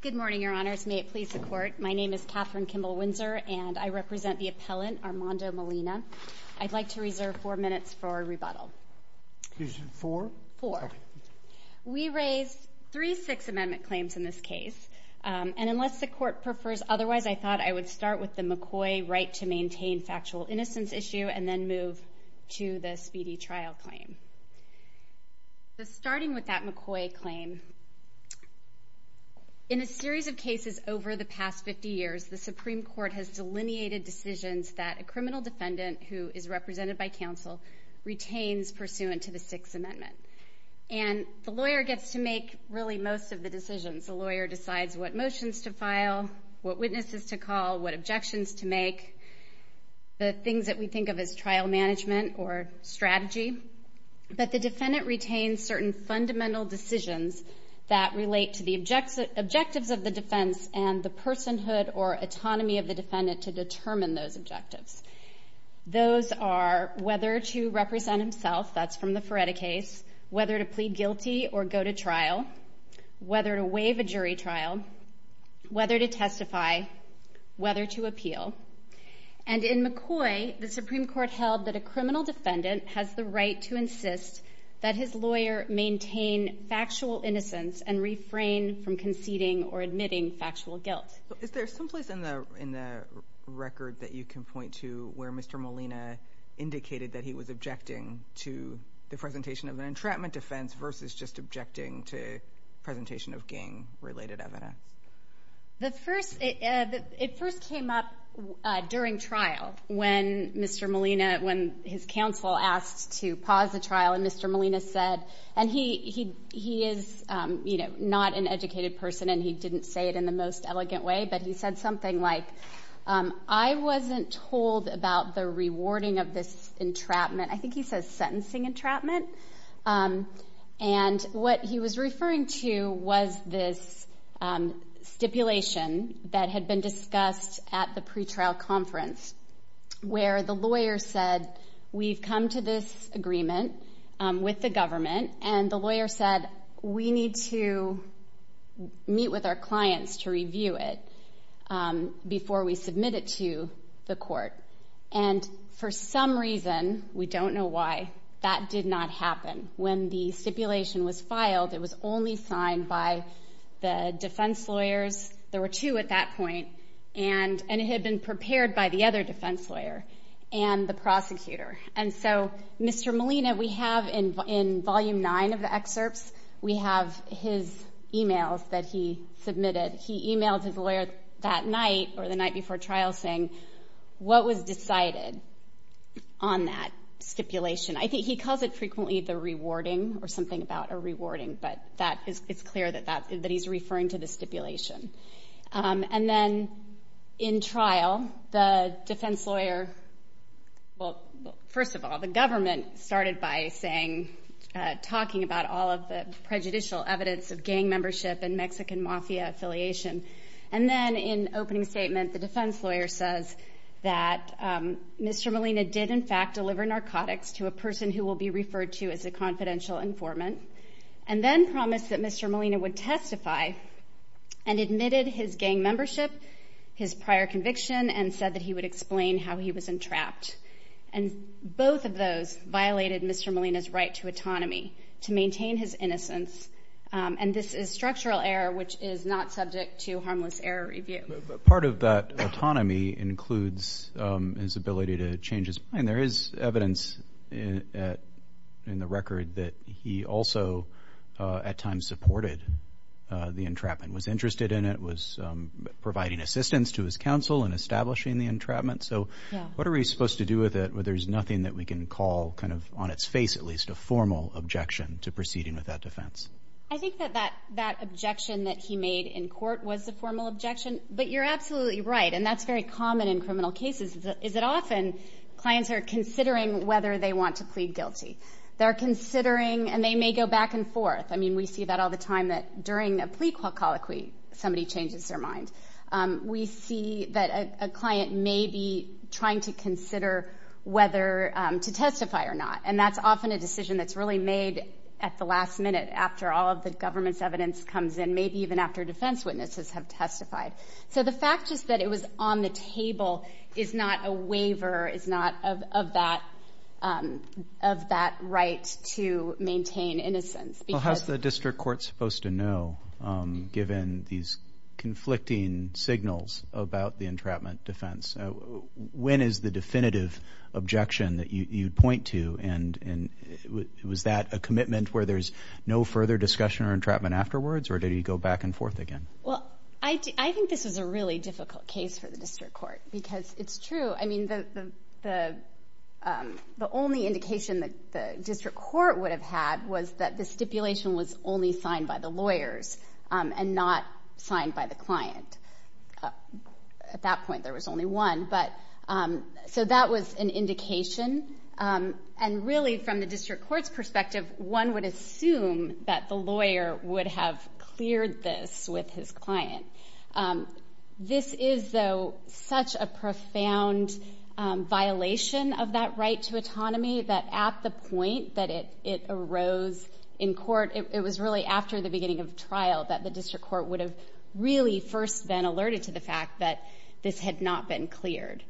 Good morning, Your Honors. May it please the Court, my name is Kathryn Kimball Windsor and I represent the appellant Armando Molina. I'd like to reserve four minutes for rebuttal. Excuse me, four? Four. We raised three Sixth Amendment claims in this case and unless the McCoy right to maintain factual innocence issue and then move to the Speedy Trial claim. Starting with that McCoy claim, in a series of cases over the past 50 years, the Supreme Court has delineated decisions that a criminal defendant who is represented by counsel retains pursuant to the Sixth Amendment. And the lawyer gets to make really most of the decisions. The lawyer decides what motions to file, what witnesses to call, what objections to make, the things that we think of as trial management or strategy. But the defendant retains certain fundamental decisions that relate to the objectives of the defense and the personhood or autonomy of the defendant to determine those objectives. Those are whether to represent himself, that's from the Feretta case, whether to plead guilty or go to trial, whether to waive a jury trial, whether to testify, whether to appeal. And in McCoy, the Supreme Court held that a criminal defendant has the right to insist that his lawyer maintain factual innocence and refrain from conceding or admitting factual guilt. Is there someplace in the record that you can point to where Mr. Molina indicated that he was objecting to the presentation of an entrapment offense versus just objecting to presentation of gang-related evidence? The first, it first came up during trial when Mr. Molina, when his counsel asked to pause the trial and Mr. Molina said, and he is, you know, not an educated person and he didn't say it in the most elegant way, but he said something like, I wasn't told about the rewarding of this entrapment, I think he says sentencing entrapment. And what he was referring to was this stipulation that had been discussed at the pretrial conference where the lawyer said we've come to this agreement with the government and the lawyer said we need to meet with our counsel. For some reason, we don't know why, that did not happen. When the stipulation was filed, it was only signed by the defense lawyers, there were two at that point, and it had been prepared by the other defense lawyer and the prosecutor. And so Mr. Molina, we have in volume nine of the excerpts, we have his emails that he submitted. He emailed his lawyer that night or the night before trial saying what was decided on that stipulation. I think he calls it frequently the rewarding or something about a rewarding, but that is clear that he's referring to the stipulation. And then in trial, the defense lawyer, well first of all, the government started by saying, talking about all of the prejudicial evidence of gang membership and Mexican mafia affiliation. And then in opening statement, the defense lawyer says that Mr. Molina did in fact deliver narcotics to a person who will be referred to as a confidential informant. And then promised that Mr. Molina would testify and admitted his gang membership, his prior conviction, and said that he would explain how he was entrapped. And both of those violated Mr. Molina's right to autonomy, to maintain his autonomy. And this is structural error, which is not subject to harmless error review. Part of that autonomy includes his ability to change his mind. There is evidence in the record that he also at times supported the entrapment, was interested in it, was providing assistance to his counsel in establishing the entrapment. So what are we supposed to do with it where there's nothing that we can call kind of on its face at least a formal objection to proceeding with that defense? I think that that objection that he made in court was the formal objection. But you're absolutely right, and that's very common in criminal cases, is that often clients are considering whether they want to plead guilty. They're considering, and they may go back and forth. I mean, we see that all the time that during a plea colloquy, somebody changes their mind. We see that a client may be trying to consider whether to testify or not. And that's often a decision that's really made at the last minute after all of the government's evidence comes in, maybe even after defense witnesses have testified. So the fact just that it was on the table is not a waiver, is not of that right to maintain innocence. Well, how's the district court supposed to know given these conflicting signals about the entrapment defense? When is the definitive objection that you'd point to? And was that a commitment where there's no further discussion or entrapment afterwards, or did he go back and forth again? Well, I think this is a really difficult case for the district court, because it's true. I mean, the only indication that the district court would have had was that the stipulation was only signed by the lawyers and not signed by the client. At that point, there was only one. So that was an indication. And really, from the district court's perspective, one would assume that the lawyer would have cleared this with his client. This is, though, such a profound violation of that right to autonomy that at the point that it arose in court, it was really after the beginning of trial that the district court would have really first been alerted to the fact that this had not been cleared.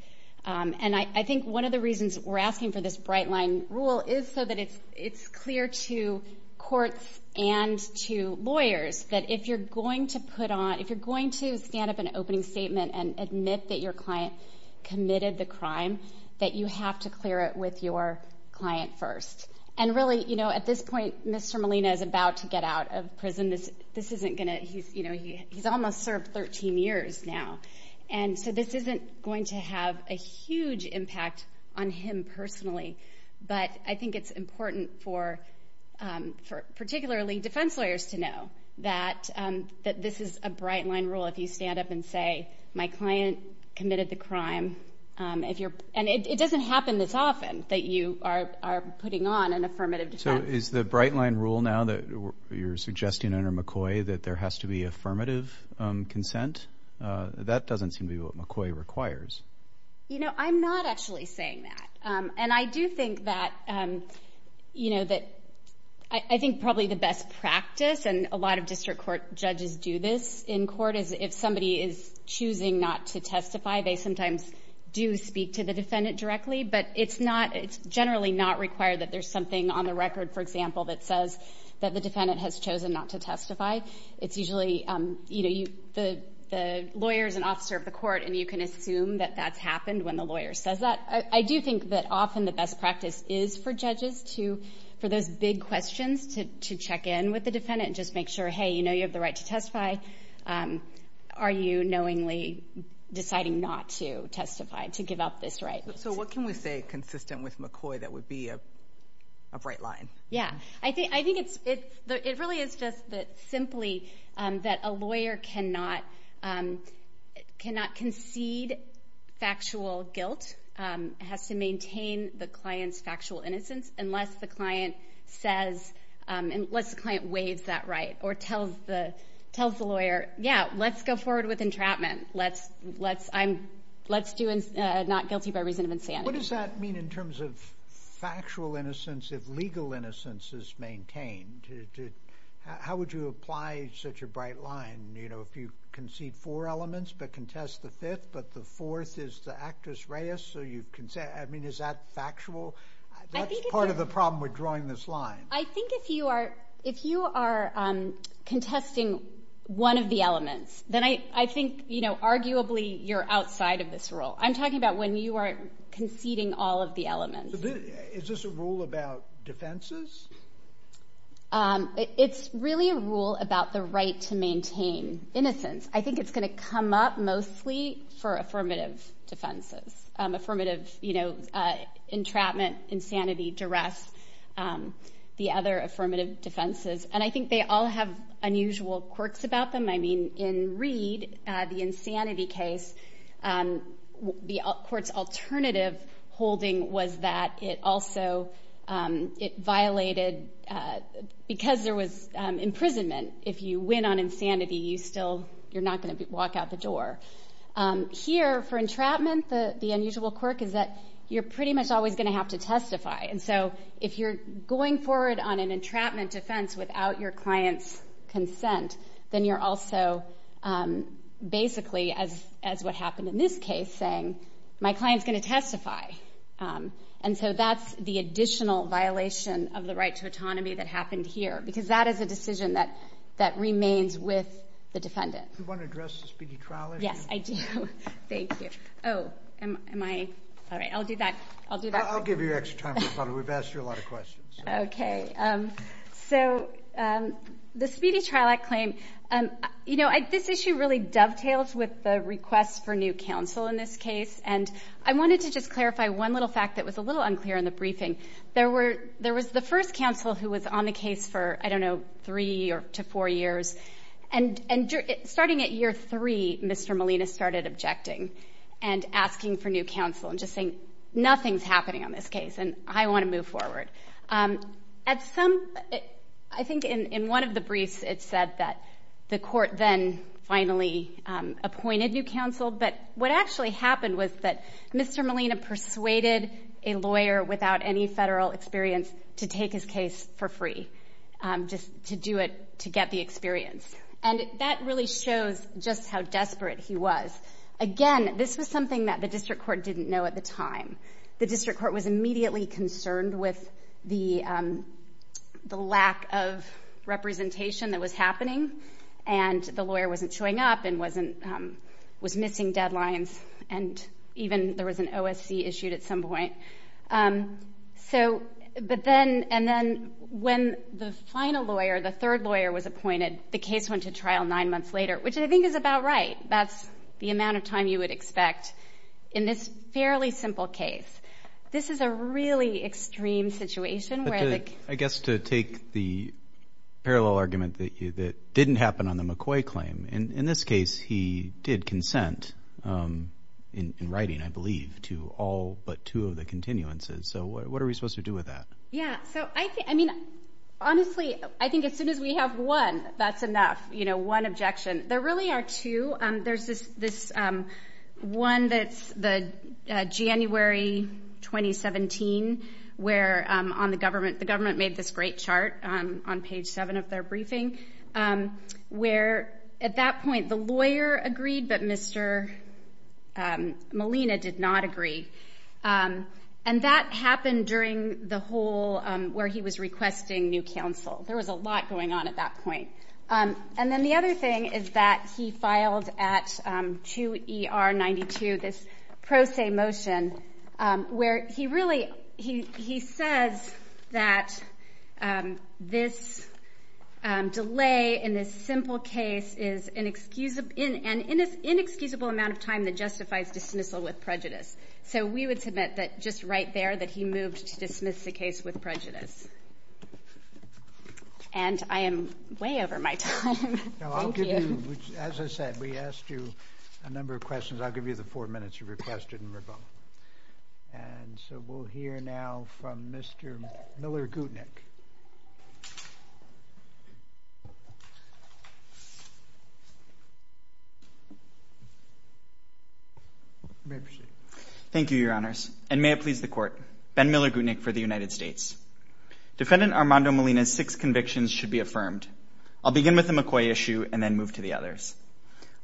And I think one of the reasons we're asking for this bright line rule is so that it's clear to courts and to lawyers that if you're going to put on, if you're going to stand up an opening statement and admit that your client committed the crime, that you have to clear it with your client first. And really, at this point, Mr. Molina is about to get out of prison. He's almost served 13 years now. And so this isn't going to have a huge impact on him personally. But I think it's important for, particularly, defense lawyers to know that this is a bright line rule if you stand up and say, my client committed the crime. And it doesn't happen this often that you are putting on an affirmative defense. So is the bright line rule now that you're suggesting under McCoy that there has to be affirmative consent? That doesn't seem to be what McCoy requires. You know, I'm not actually saying that. And I do think that, you know, that I think probably the best practice, and a lot of district court judges do this in court, is if somebody is not, it's generally not required that there's something on the record, for example, that says that the defendant has chosen not to testify. It's usually, you know, the lawyer is an officer of the court and you can assume that that's happened when the lawyer says that. I do think that often the best practice is for judges to, for those big questions, to check in with the defendant and just make sure, hey, you know you have the right to testify. Are you knowingly deciding not to testify, to give up this right? So what can we say consistent with McCoy that would be a bright line? Yeah. I think it's, it really is just that simply that a lawyer cannot concede factual guilt. It has to maintain the client's factual innocence unless the client says, unless the client waives that right or tells the lawyer, yeah, let's go forward with entrapment. Let's do not guilty by reason of insanity. What does that mean in terms of factual innocence if legal innocence is maintained? How would you apply such a bright line? You know, if you concede four elements but contest the fifth, but the fourth is the actus reus, so you can say, I mean, is that factual? That's part of the problem with drawing this line. I think if you are, if you are contesting one of the elements, then I think, you know, I'm talking about when you are conceding all of the elements. Is this a rule about defenses? It's really a rule about the right to maintain innocence. I think it's going to come up mostly for affirmative defenses, affirmative, you know, entrapment, insanity, duress, the other affirmative defenses. And I think they all have unusual quirks about them. I mean, in the insanity case, the court's alternative holding was that it also, it violated, because there was imprisonment. If you win on insanity, you still, you're not going to walk out the door. Here, for entrapment, the unusual quirk is that you're pretty much always going to have to testify. And so if you're going forward on an entrapment defense without your client's what happened in this case, saying, my client's going to testify. And so that's the additional violation of the right to autonomy that happened here, because that is a decision that remains with the defendant. Do you want to address the Speedy Trial Act? Yes, I do. Thank you. Oh, am I, all right, I'll do that. I'll do that. I'll give you extra time. We've asked you a lot of questions. Okay. So the Speedy Trial Act claim, you know, this issue really dovetails with the request for new counsel in this case. And I wanted to just clarify one little fact that was a little unclear in the briefing. There were, there was the first counsel who was on the case for, I don't know, three to four years. And starting at year three, Mr. Molina started objecting and asking for new counsel and just saying, nothing's happening on this case going forward. At some, I think in one of the briefs, it said that the court then finally appointed new counsel. But what actually happened was that Mr. Molina persuaded a lawyer without any federal experience to take his case for free, just to do it, to get the experience. And that really shows just how desperate he was. Again, this was something that the district court didn't know at the time. The district court was immediately concerned with the lack of representation that was happening. And the lawyer wasn't showing up and wasn't, was missing deadlines. And even there was an OSC issued at some point. So, but then, and then when the final lawyer, the third lawyer was appointed, the case went to trial nine months later, which I think is about right. That's the amount of time you would expect in this fairly simple case. This is a really extreme situation where I guess to take the parallel argument that you, that didn't happen on the McCoy claim. And in this case, he did consent in writing, I believe, to all but two of the continuances. So what are we supposed to do with that? Yeah. So I think, I mean, honestly, I think as soon as we have one, that's enough, you know, one objection. There really are two. There's this, this one that's the January 2017, where on the government, the government made this great chart on page seven of their briefing, where at that point, the lawyer agreed, but Mr. Molina did not agree. And that happened during the whole, where he was requesting new counsel. There was a lot going on at that point. And then the other thing is that he filed at 2 ER 92, this pro se motion, where he really, he, he says that this delay in this simple case is inexcusable, in an inexcusable amount of time that justifies dismissal with prejudice. So we would submit that just right there, that he moved to dismiss the case with prejudice. And I am way over my time. As I said, we asked you a number of questions. I'll give you the four minutes you requested in rebuttal. And so we'll hear now from Mr. Miller Gootnick. Thank you, Your Honors. And may it please the Court, Ben Miller Gootnick for the United States. Defendant Armando Molina's six convictions should be affirmed. I'll begin with the McCoy issue and then move to the others.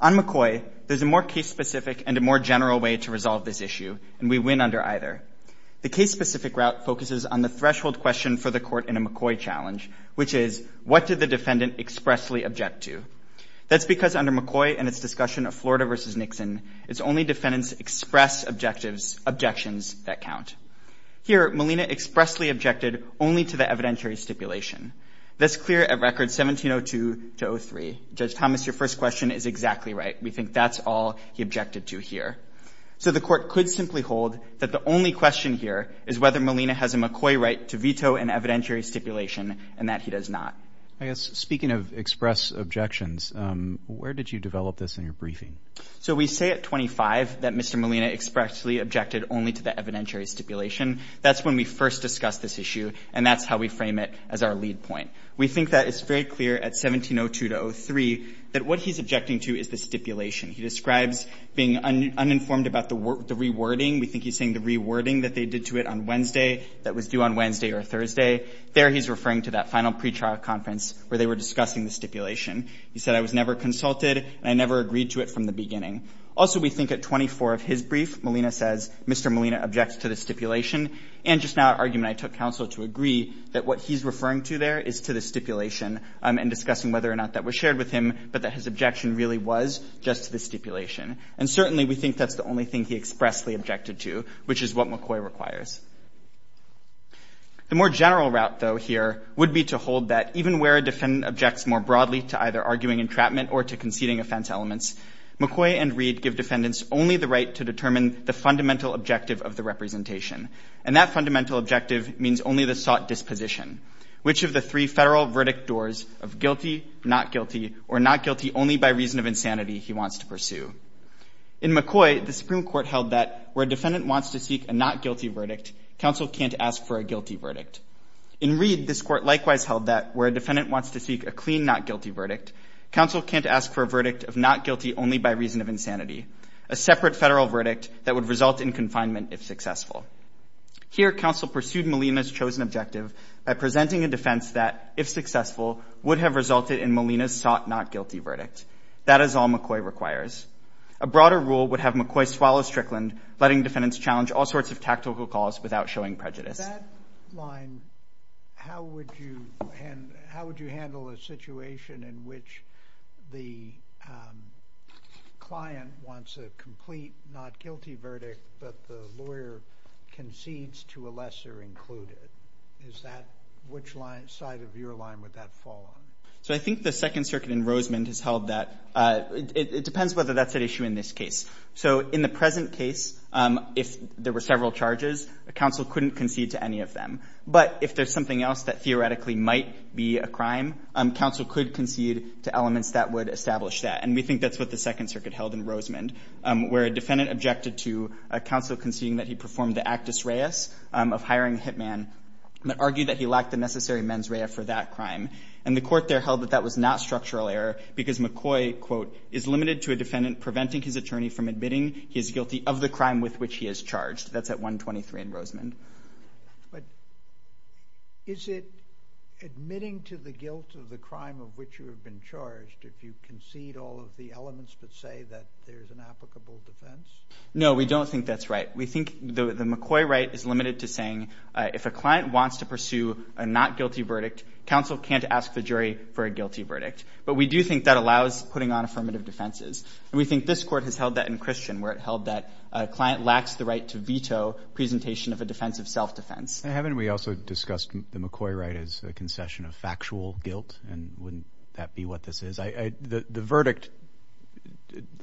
On McCoy, there's a more case specific and a more general way to resolve this issue, and we win under either. The case specific route focuses on the threshold question for the court in a McCoy challenge, which is what did the defendant expressly object to? That's because under McCoy and its discussion of Florida versus Nixon, it's only defendants express objectives, objections that count. Here, Molina expressly objected only to the evidentiary stipulation. That's clear at record 1702 to 03. Judge Thomas, your first question is exactly right. We think that's all he objected to here. So the court could simply hold that the only question here is whether Molina has a McCoy right to veto an evidentiary stipulation and that he does not. I guess, speaking of express objections, where did you develop this in your briefing? So we say at 25 that Mr. Molina expressly objected only to the evidentiary stipulation. That's when we first discussed this issue, and that's how we frame it as our lead point. We think that it's very clear at 1702 to 03 that what he's objecting to is the stipulation. He describes being uninformed about the rewording. We think he's saying the rewording that they did to it on Wednesday that was due on Wednesday or Thursday. There, he's referring to that final pretrial conference where they were discussing the stipulation. He said, I was never consulted, and I never agreed to it from the beginning. Also, we think at 24 of his brief, Molina says, Mr. Molina objected to the stipulation. And just now at argument, I took counsel to agree that what he's referring to there is to the stipulation and discussing whether or not that was shared with him, but that his objection really was just to the stipulation. And certainly, we think that's the only thing he expressly objected to, which is what McCoy requires. The more general route, though, here would be to hold that even where a defendant objects more broadly to either arguing entrapment or to conceding offense elements, McCoy and Reed give defendants only the right to determine the fundamental objective of the representation. And that fundamental objective means only the sought disposition, which of the three federal verdict doors of guilty, not guilty, or not guilty only by reason of insanity he wants to pursue. In McCoy, the Supreme Court held that where a defendant wants to seek a not guilty verdict, counsel can't ask for a guilty verdict. In Reed, this court likewise held that where a defendant wants to seek a clean not guilty verdict, counsel can't ask for a verdict of not guilty only by reason of insanity, a separate federal verdict that would result in confinement if successful. Here, counsel pursued Molina's chosen objective by presenting a defense that, if successful, would have resulted in Molina's sought not guilty verdict. That is all McCoy requires. A broader rule would have McCoy swallow Strickland, letting defendants challenge all sorts of tactical calls without showing prejudice. That line, how would you handle a situation in which the client wants a complete not guilty verdict, but the lawyer concedes to a lesser included? Which side of your line would that fall on? So I think the Second Circuit in Rosemond has held that it depends whether that's an issue in this case. So in the present case, if there were several charges, a counsel couldn't concede to any of them. But if there's something else that theoretically might be a crime, counsel could concede to elements that would establish that. And we think that's what the Second Circuit held in Rosemond, where a defendant objected to a counsel conceding that he performed the actus reus of hiring a hitman, but argued that he lacked the necessary mens rea for that crime. And the court there held that that was not structural error because McCoy, quote, is limited to a defendant preventing his attorney from admitting he is guilty of the crime with which he is charged. That's at 123 in Rosemond. But is it admitting to the guilt of the crime of which you have been charged if you concede all of the elements that say that there's an applicable defense? No, we don't think that's right. We think the McCoy right is limited to saying if a But we do think that allows putting on affirmative defenses. And we think this court has held that in Christian, where it held that a client lacks the right to veto presentation of a defense of self-defense. And haven't we also discussed the McCoy right as a concession of factual guilt? And wouldn't that be what this is? The verdict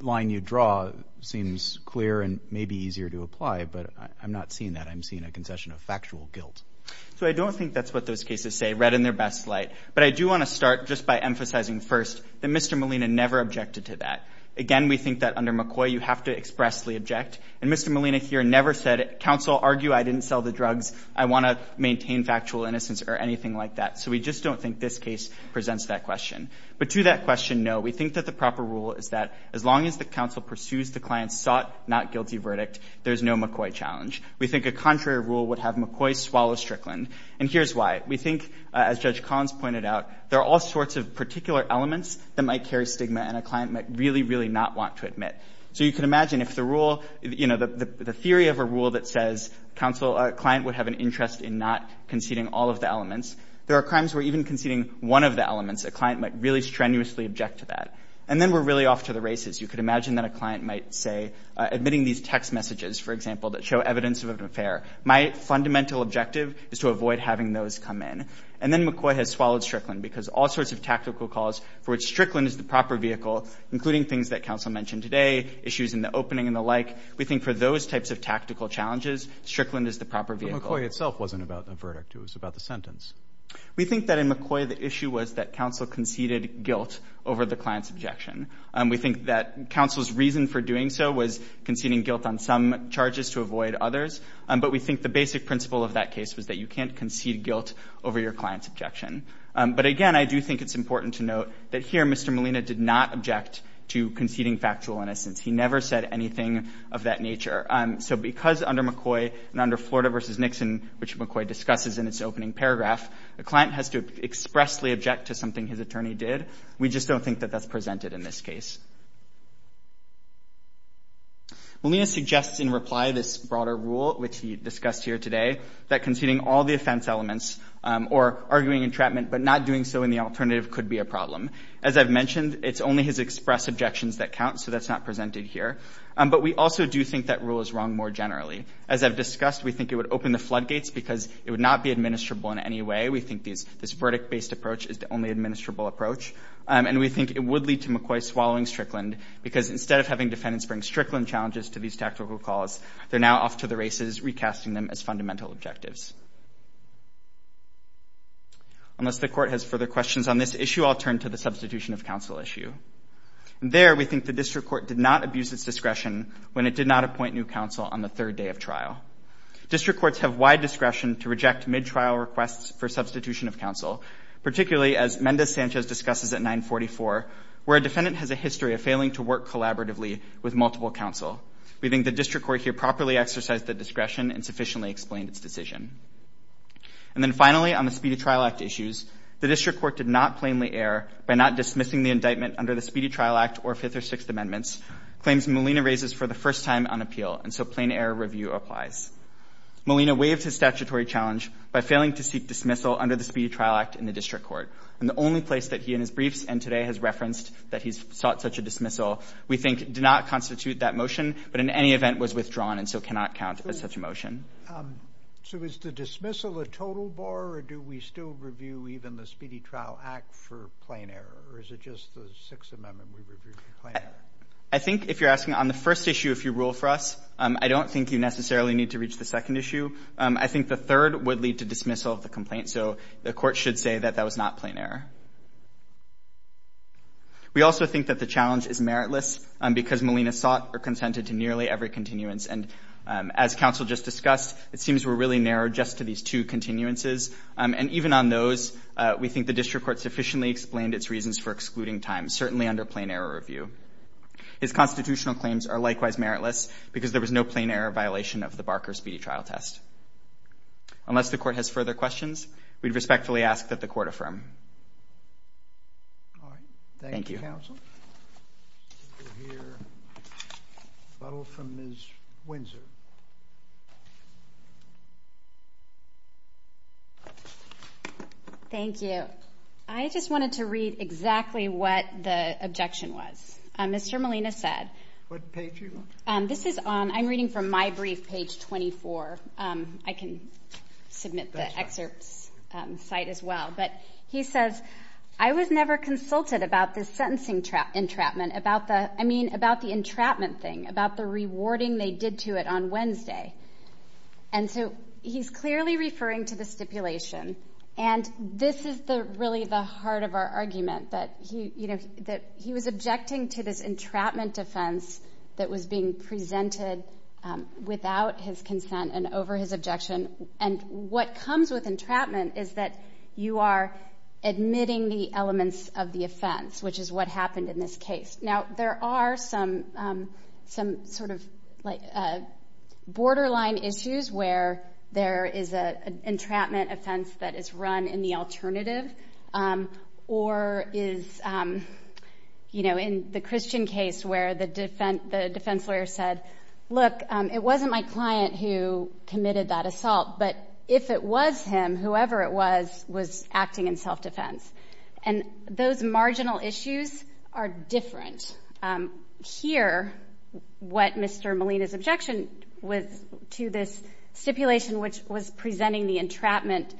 line you draw seems clear and may be easier to apply, but I'm not seeing that. I'm seeing a concession of factual guilt. So I don't think that's what those cases say, read in their best light. But I do want to start just by emphasizing first that Mr. Molina never objected to that. Again, we think that under McCoy, you have to expressly object. And Mr. Molina here never said, counsel, argue I didn't sell the drugs. I want to maintain factual innocence or anything like that. So we just don't think this case presents that question. But to that question, no. We think that the proper rule is that as long as the counsel pursues the client's sought, not guilty verdict, there's no McCoy challenge. We think a contrary rule would have McCoy swallow Strickland. And here's why. We think, as Judge Collins pointed out, there are all sorts of particular elements that might carry stigma and a client might really, really not want to admit. So you can imagine if the rule, you know, the theory of a rule that says counsel, a client would have an interest in not conceding all of the elements, there are crimes where even conceding one of the elements, a client might really strenuously object to that. And then we're really off to the races. You could imagine that a client might say, admitting these text messages, for example, that show evidence of an affair. My fundamental objective is to avoid having those come in. And then McCoy has swallowed Strickland because all sorts of tactical calls for which Strickland is the proper vehicle, including things that counsel mentioned today, issues in the opening and the like. We think for those types of tactical challenges, Strickland is the proper vehicle. But McCoy itself wasn't about the verdict. It was about the sentence. We think that in McCoy, the issue was that counsel conceded guilt over the client's objection. We think that counsel's reason for doing so was conceding guilt on some grounds, not to avoid others. But we think the basic principle of that case was that you can't concede guilt over your client's objection. But again, I do think it's important to note that here, Mr. Molina did not object to conceding factual innocence. He never said anything of that nature. So because under McCoy and under Florida v. Nixon, which McCoy discusses in its opening paragraph, a client has to expressly object to something his attorney did. We just don't think that that's presented in this case. Molina suggests in reply this broader rule, which he discussed here today, that conceding all the offense elements or arguing entrapment but not doing so in the alternative could be a problem. As I've mentioned, it's only his express objections that count, so that's not presented here. But we also do think that rule is wrong more generally. As I've discussed, we think it would open the floodgates because it would not be administrable in any way. We think this verdict-based approach is the only administrable approach. And we think it would lead to McCoy swallowing Strickland because instead of having defendants bring Strickland challenges to these tactical calls, they're now off to the races, recasting them as fundamental objectives. Unless the court has further questions on this issue, I'll turn to the substitution of counsel issue. There, we think the district court did not abuse its discretion when it did not appoint new counsel on the third day of trial. District courts have wide discretion to reject mid-trial requests for substitution of where a defendant has a history of failing to work collaboratively with multiple counsel. We think the district court here properly exercised the discretion and sufficiently explained its decision. And then finally, on the Speedy Trial Act issues, the district court did not plainly err by not dismissing the indictment under the Speedy Trial Act or Fifth or Sixth Amendments, claims Molina raises for the first time on appeal, and so plain error review applies. Molina waived his statutory challenge by failing to seek dismissal under the Speedy Trial Act in the district court. And the only place that he and his briefs and today has referenced that he's sought such a dismissal, we think, did not constitute that motion, but in any event was withdrawn and so cannot count as such a motion. So is the dismissal a total bore, or do we still review even the Speedy Trial Act for plain error, or is it just the Sixth Amendment we review for plain error? I think if you're asking on the first issue, if you rule for us, I don't think you necessarily need to reach the second issue. I think the third would lead to dismissal of the complaint. So the court should say that that was not plain error. We also think that the challenge is meritless because Molina sought or consented to nearly every continuance. And as counsel just discussed, it seems we're really narrowed just to these two continuances. And even on those, we think the district court sufficiently explained its reasons for excluding time, certainly under plain error review. His constitutional claims are likewise meritless because there was no plain error violation of the Barker Speedy Trial test. Unless the court has further questions, we'd respectfully ask that the court affirm. All right. Thank you, counsel. We'll hear a little from Ms. Windsor. Thank you. I just wanted to read exactly what the objection was. Mr. Molina said what page you want? This is on. I'm reading from my brief page 24. I can submit the excerpts site as well. But he says, I was never consulted about the sentencing entrapment, about the, I mean, about the entrapment thing, about the rewarding they did to it on Wednesday. And so he's clearly referring to the stipulation. And this is the really the heart of our argument that he, you know, that he was objecting to this entrapment defense that was being presented without his consent and over his objection. And what comes with entrapment is that you are admitting the elements of the offense, which is what happened in this case. Now, there are some, some sort of like borderline issues where there is a entrapment offense that is run in the alternative or is, you know, in the Christian case where the defense lawyer said, look, it wasn't my client who committed that assault, but if it was him, whoever it was, was acting in self-defense. And those marginal issues are different. Here, what Mr. Molina's objection was to this stipulation, which was presenting the entrapment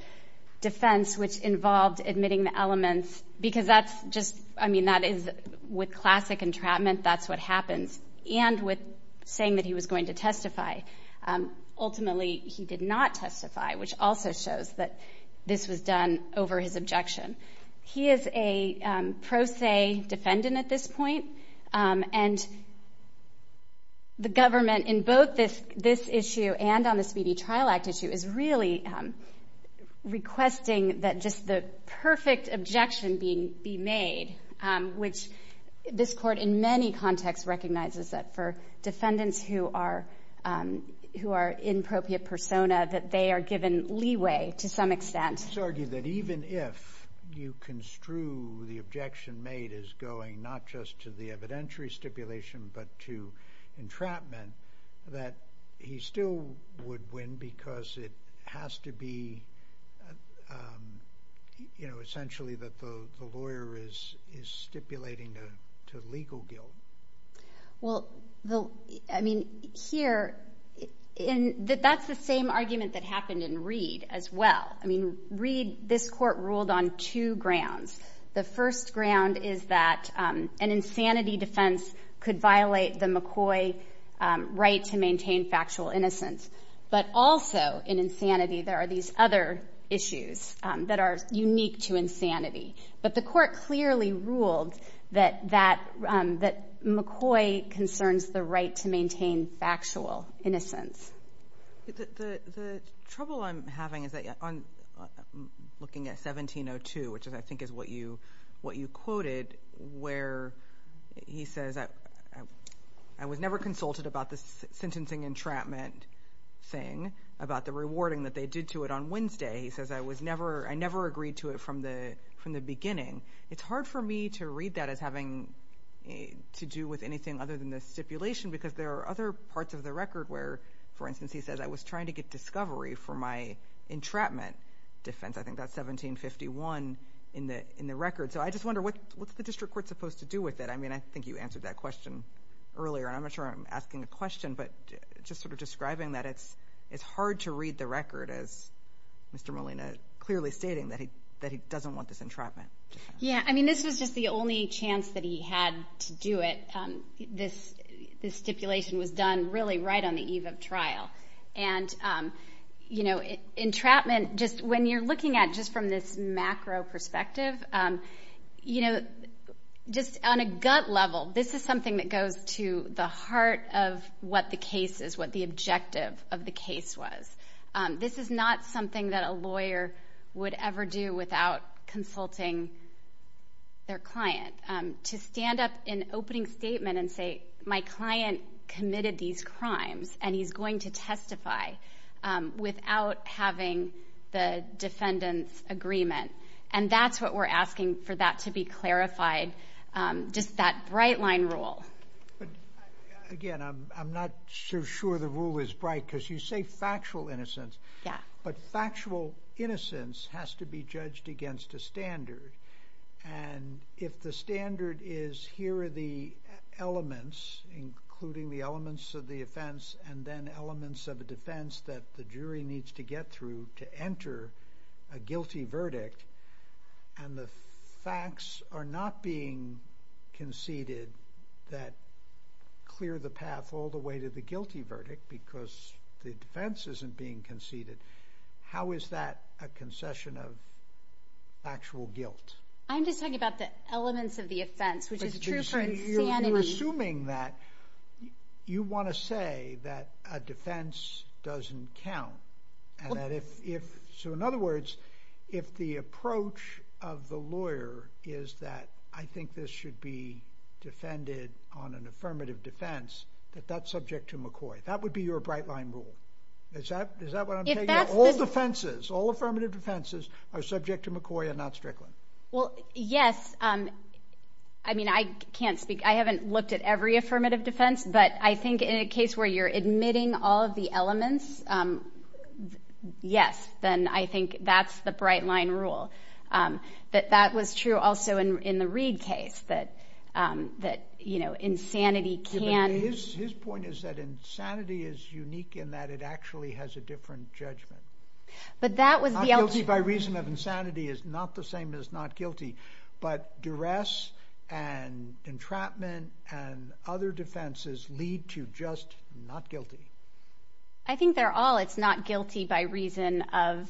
defense, which involved admitting the elements, because that's just, I mean, that is with classic entrapment, that's what happens. And with saying that he was going to testify. Ultimately, he did not testify, which also shows that this was done over his objection. He is a pro se defendant at this point. And the government in both this, this issue and on the Speedy Trial Act issue is really requesting that just the perfect objection be, be is that for defendants who are, who are in appropriate persona, that they are given leeway to some extent. Let's argue that even if you construe the objection made as going not just to the evidentiary stipulation, but to entrapment, that he still would win because it has to be, you know, essentially that the lawyer is, is stipulating to legal guilt. Well, the, I mean, here in that, that's the same argument that happened in Reed as well. I mean, Reed, this court ruled on two grounds. The first ground is that an insanity defense could violate the McCoy right to maintain factual innocence. But also in insanity, there are these other issues that are clearly ruled that, that, um, that McCoy concerns the right to maintain factual innocence. The, the, the trouble I'm having is that on looking at 1702, which is, I think is what you, what you quoted where he says, I, I was never consulted about this sentencing entrapment thing about the rewarding that they did to it on Wednesday. He says, I was never, I never agreed to it from the, from the beginning. It's hard for me to read that as having to do with anything other than the stipulation, because there are other parts of the record where, for instance, he says, I was trying to get discovery for my entrapment defense. I think that's 1751 in the, in the record. So I just wonder what, what's the district court supposed to do with it? I mean, I think you answered that question earlier, and I'm not sure I'm asking a question, but just sort of describing that it's, it's hard to read the record as Mr. Molina clearly stating that he, that he doesn't want this entrapment defense. Yeah, I mean, this was just the only chance that he had to do it. This, this stipulation was done really right on the eve of trial. And, you know, entrapment just, when you're looking at just from this macro perspective, you know, just on a gut level, this is something that goes to the heart of what the case is, what the objective of the case was. This is not something that a defendant would ever do without consulting their client. To stand up in opening statement and say, my client committed these crimes, and he's going to testify without having the defendant's agreement. And that's what we're asking for that to be clarified. Just that bright line rule. But again, I'm not so sure the rule is bright, because you say factual innocence, but factual innocence has to be judged against a standard. And if the standard is, here are the elements, including the elements of the offense, and then elements of a defense that the jury needs to get through to enter a guilty verdict, and the facts are not being conceded that clear the path all the way to the guilty verdict, because the defense isn't being conceded, how is that a concession of factual guilt? I'm just talking about the elements of the offense, which is true for insanity. You're assuming that, you want to say that a defense doesn't count. So in other words, if the approach of the lawyer is that, I would be your bright line rule. Is that what I'm saying? All defenses, all affirmative defenses, are subject to McCoy and not Strickland. Well, yes. I mean, I can't speak, I haven't looked at every affirmative defense, but I think in a case where you're admitting all of the elements, yes, then I think that's the bright line rule. That was true also in the Reed case, that, you know, that insanity is unique in that it actually has a different judgment. But that was the... Not guilty by reason of insanity is not the same as not guilty, but duress and entrapment and other defenses lead to just not guilty. I think they're all, it's not guilty by reason of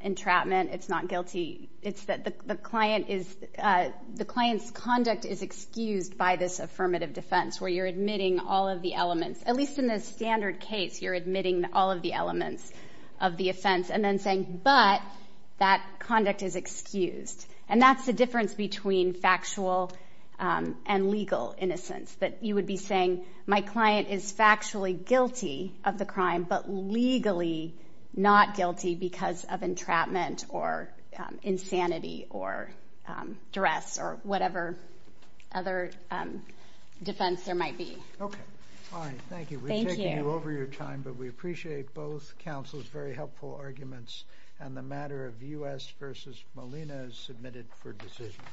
entrapment, it's not guilty, it's that the client is, the client's conduct is excused by this affirmative defense, where you're admitting all of the elements. At least in the standard case, you're admitting all of the elements of the offense and then saying, but that conduct is excused. And that's the difference between factual and legal innocence. That you would be saying, my client is factually guilty of the crime, but legally not guilty because of entrapment or insanity or duress or whatever other defense there might be. Okay. All right. Thank you. We're taking you over your time, but we appreciate both counsel's very helpful arguments and the matter of U.S. versus Molina is submitted for decision.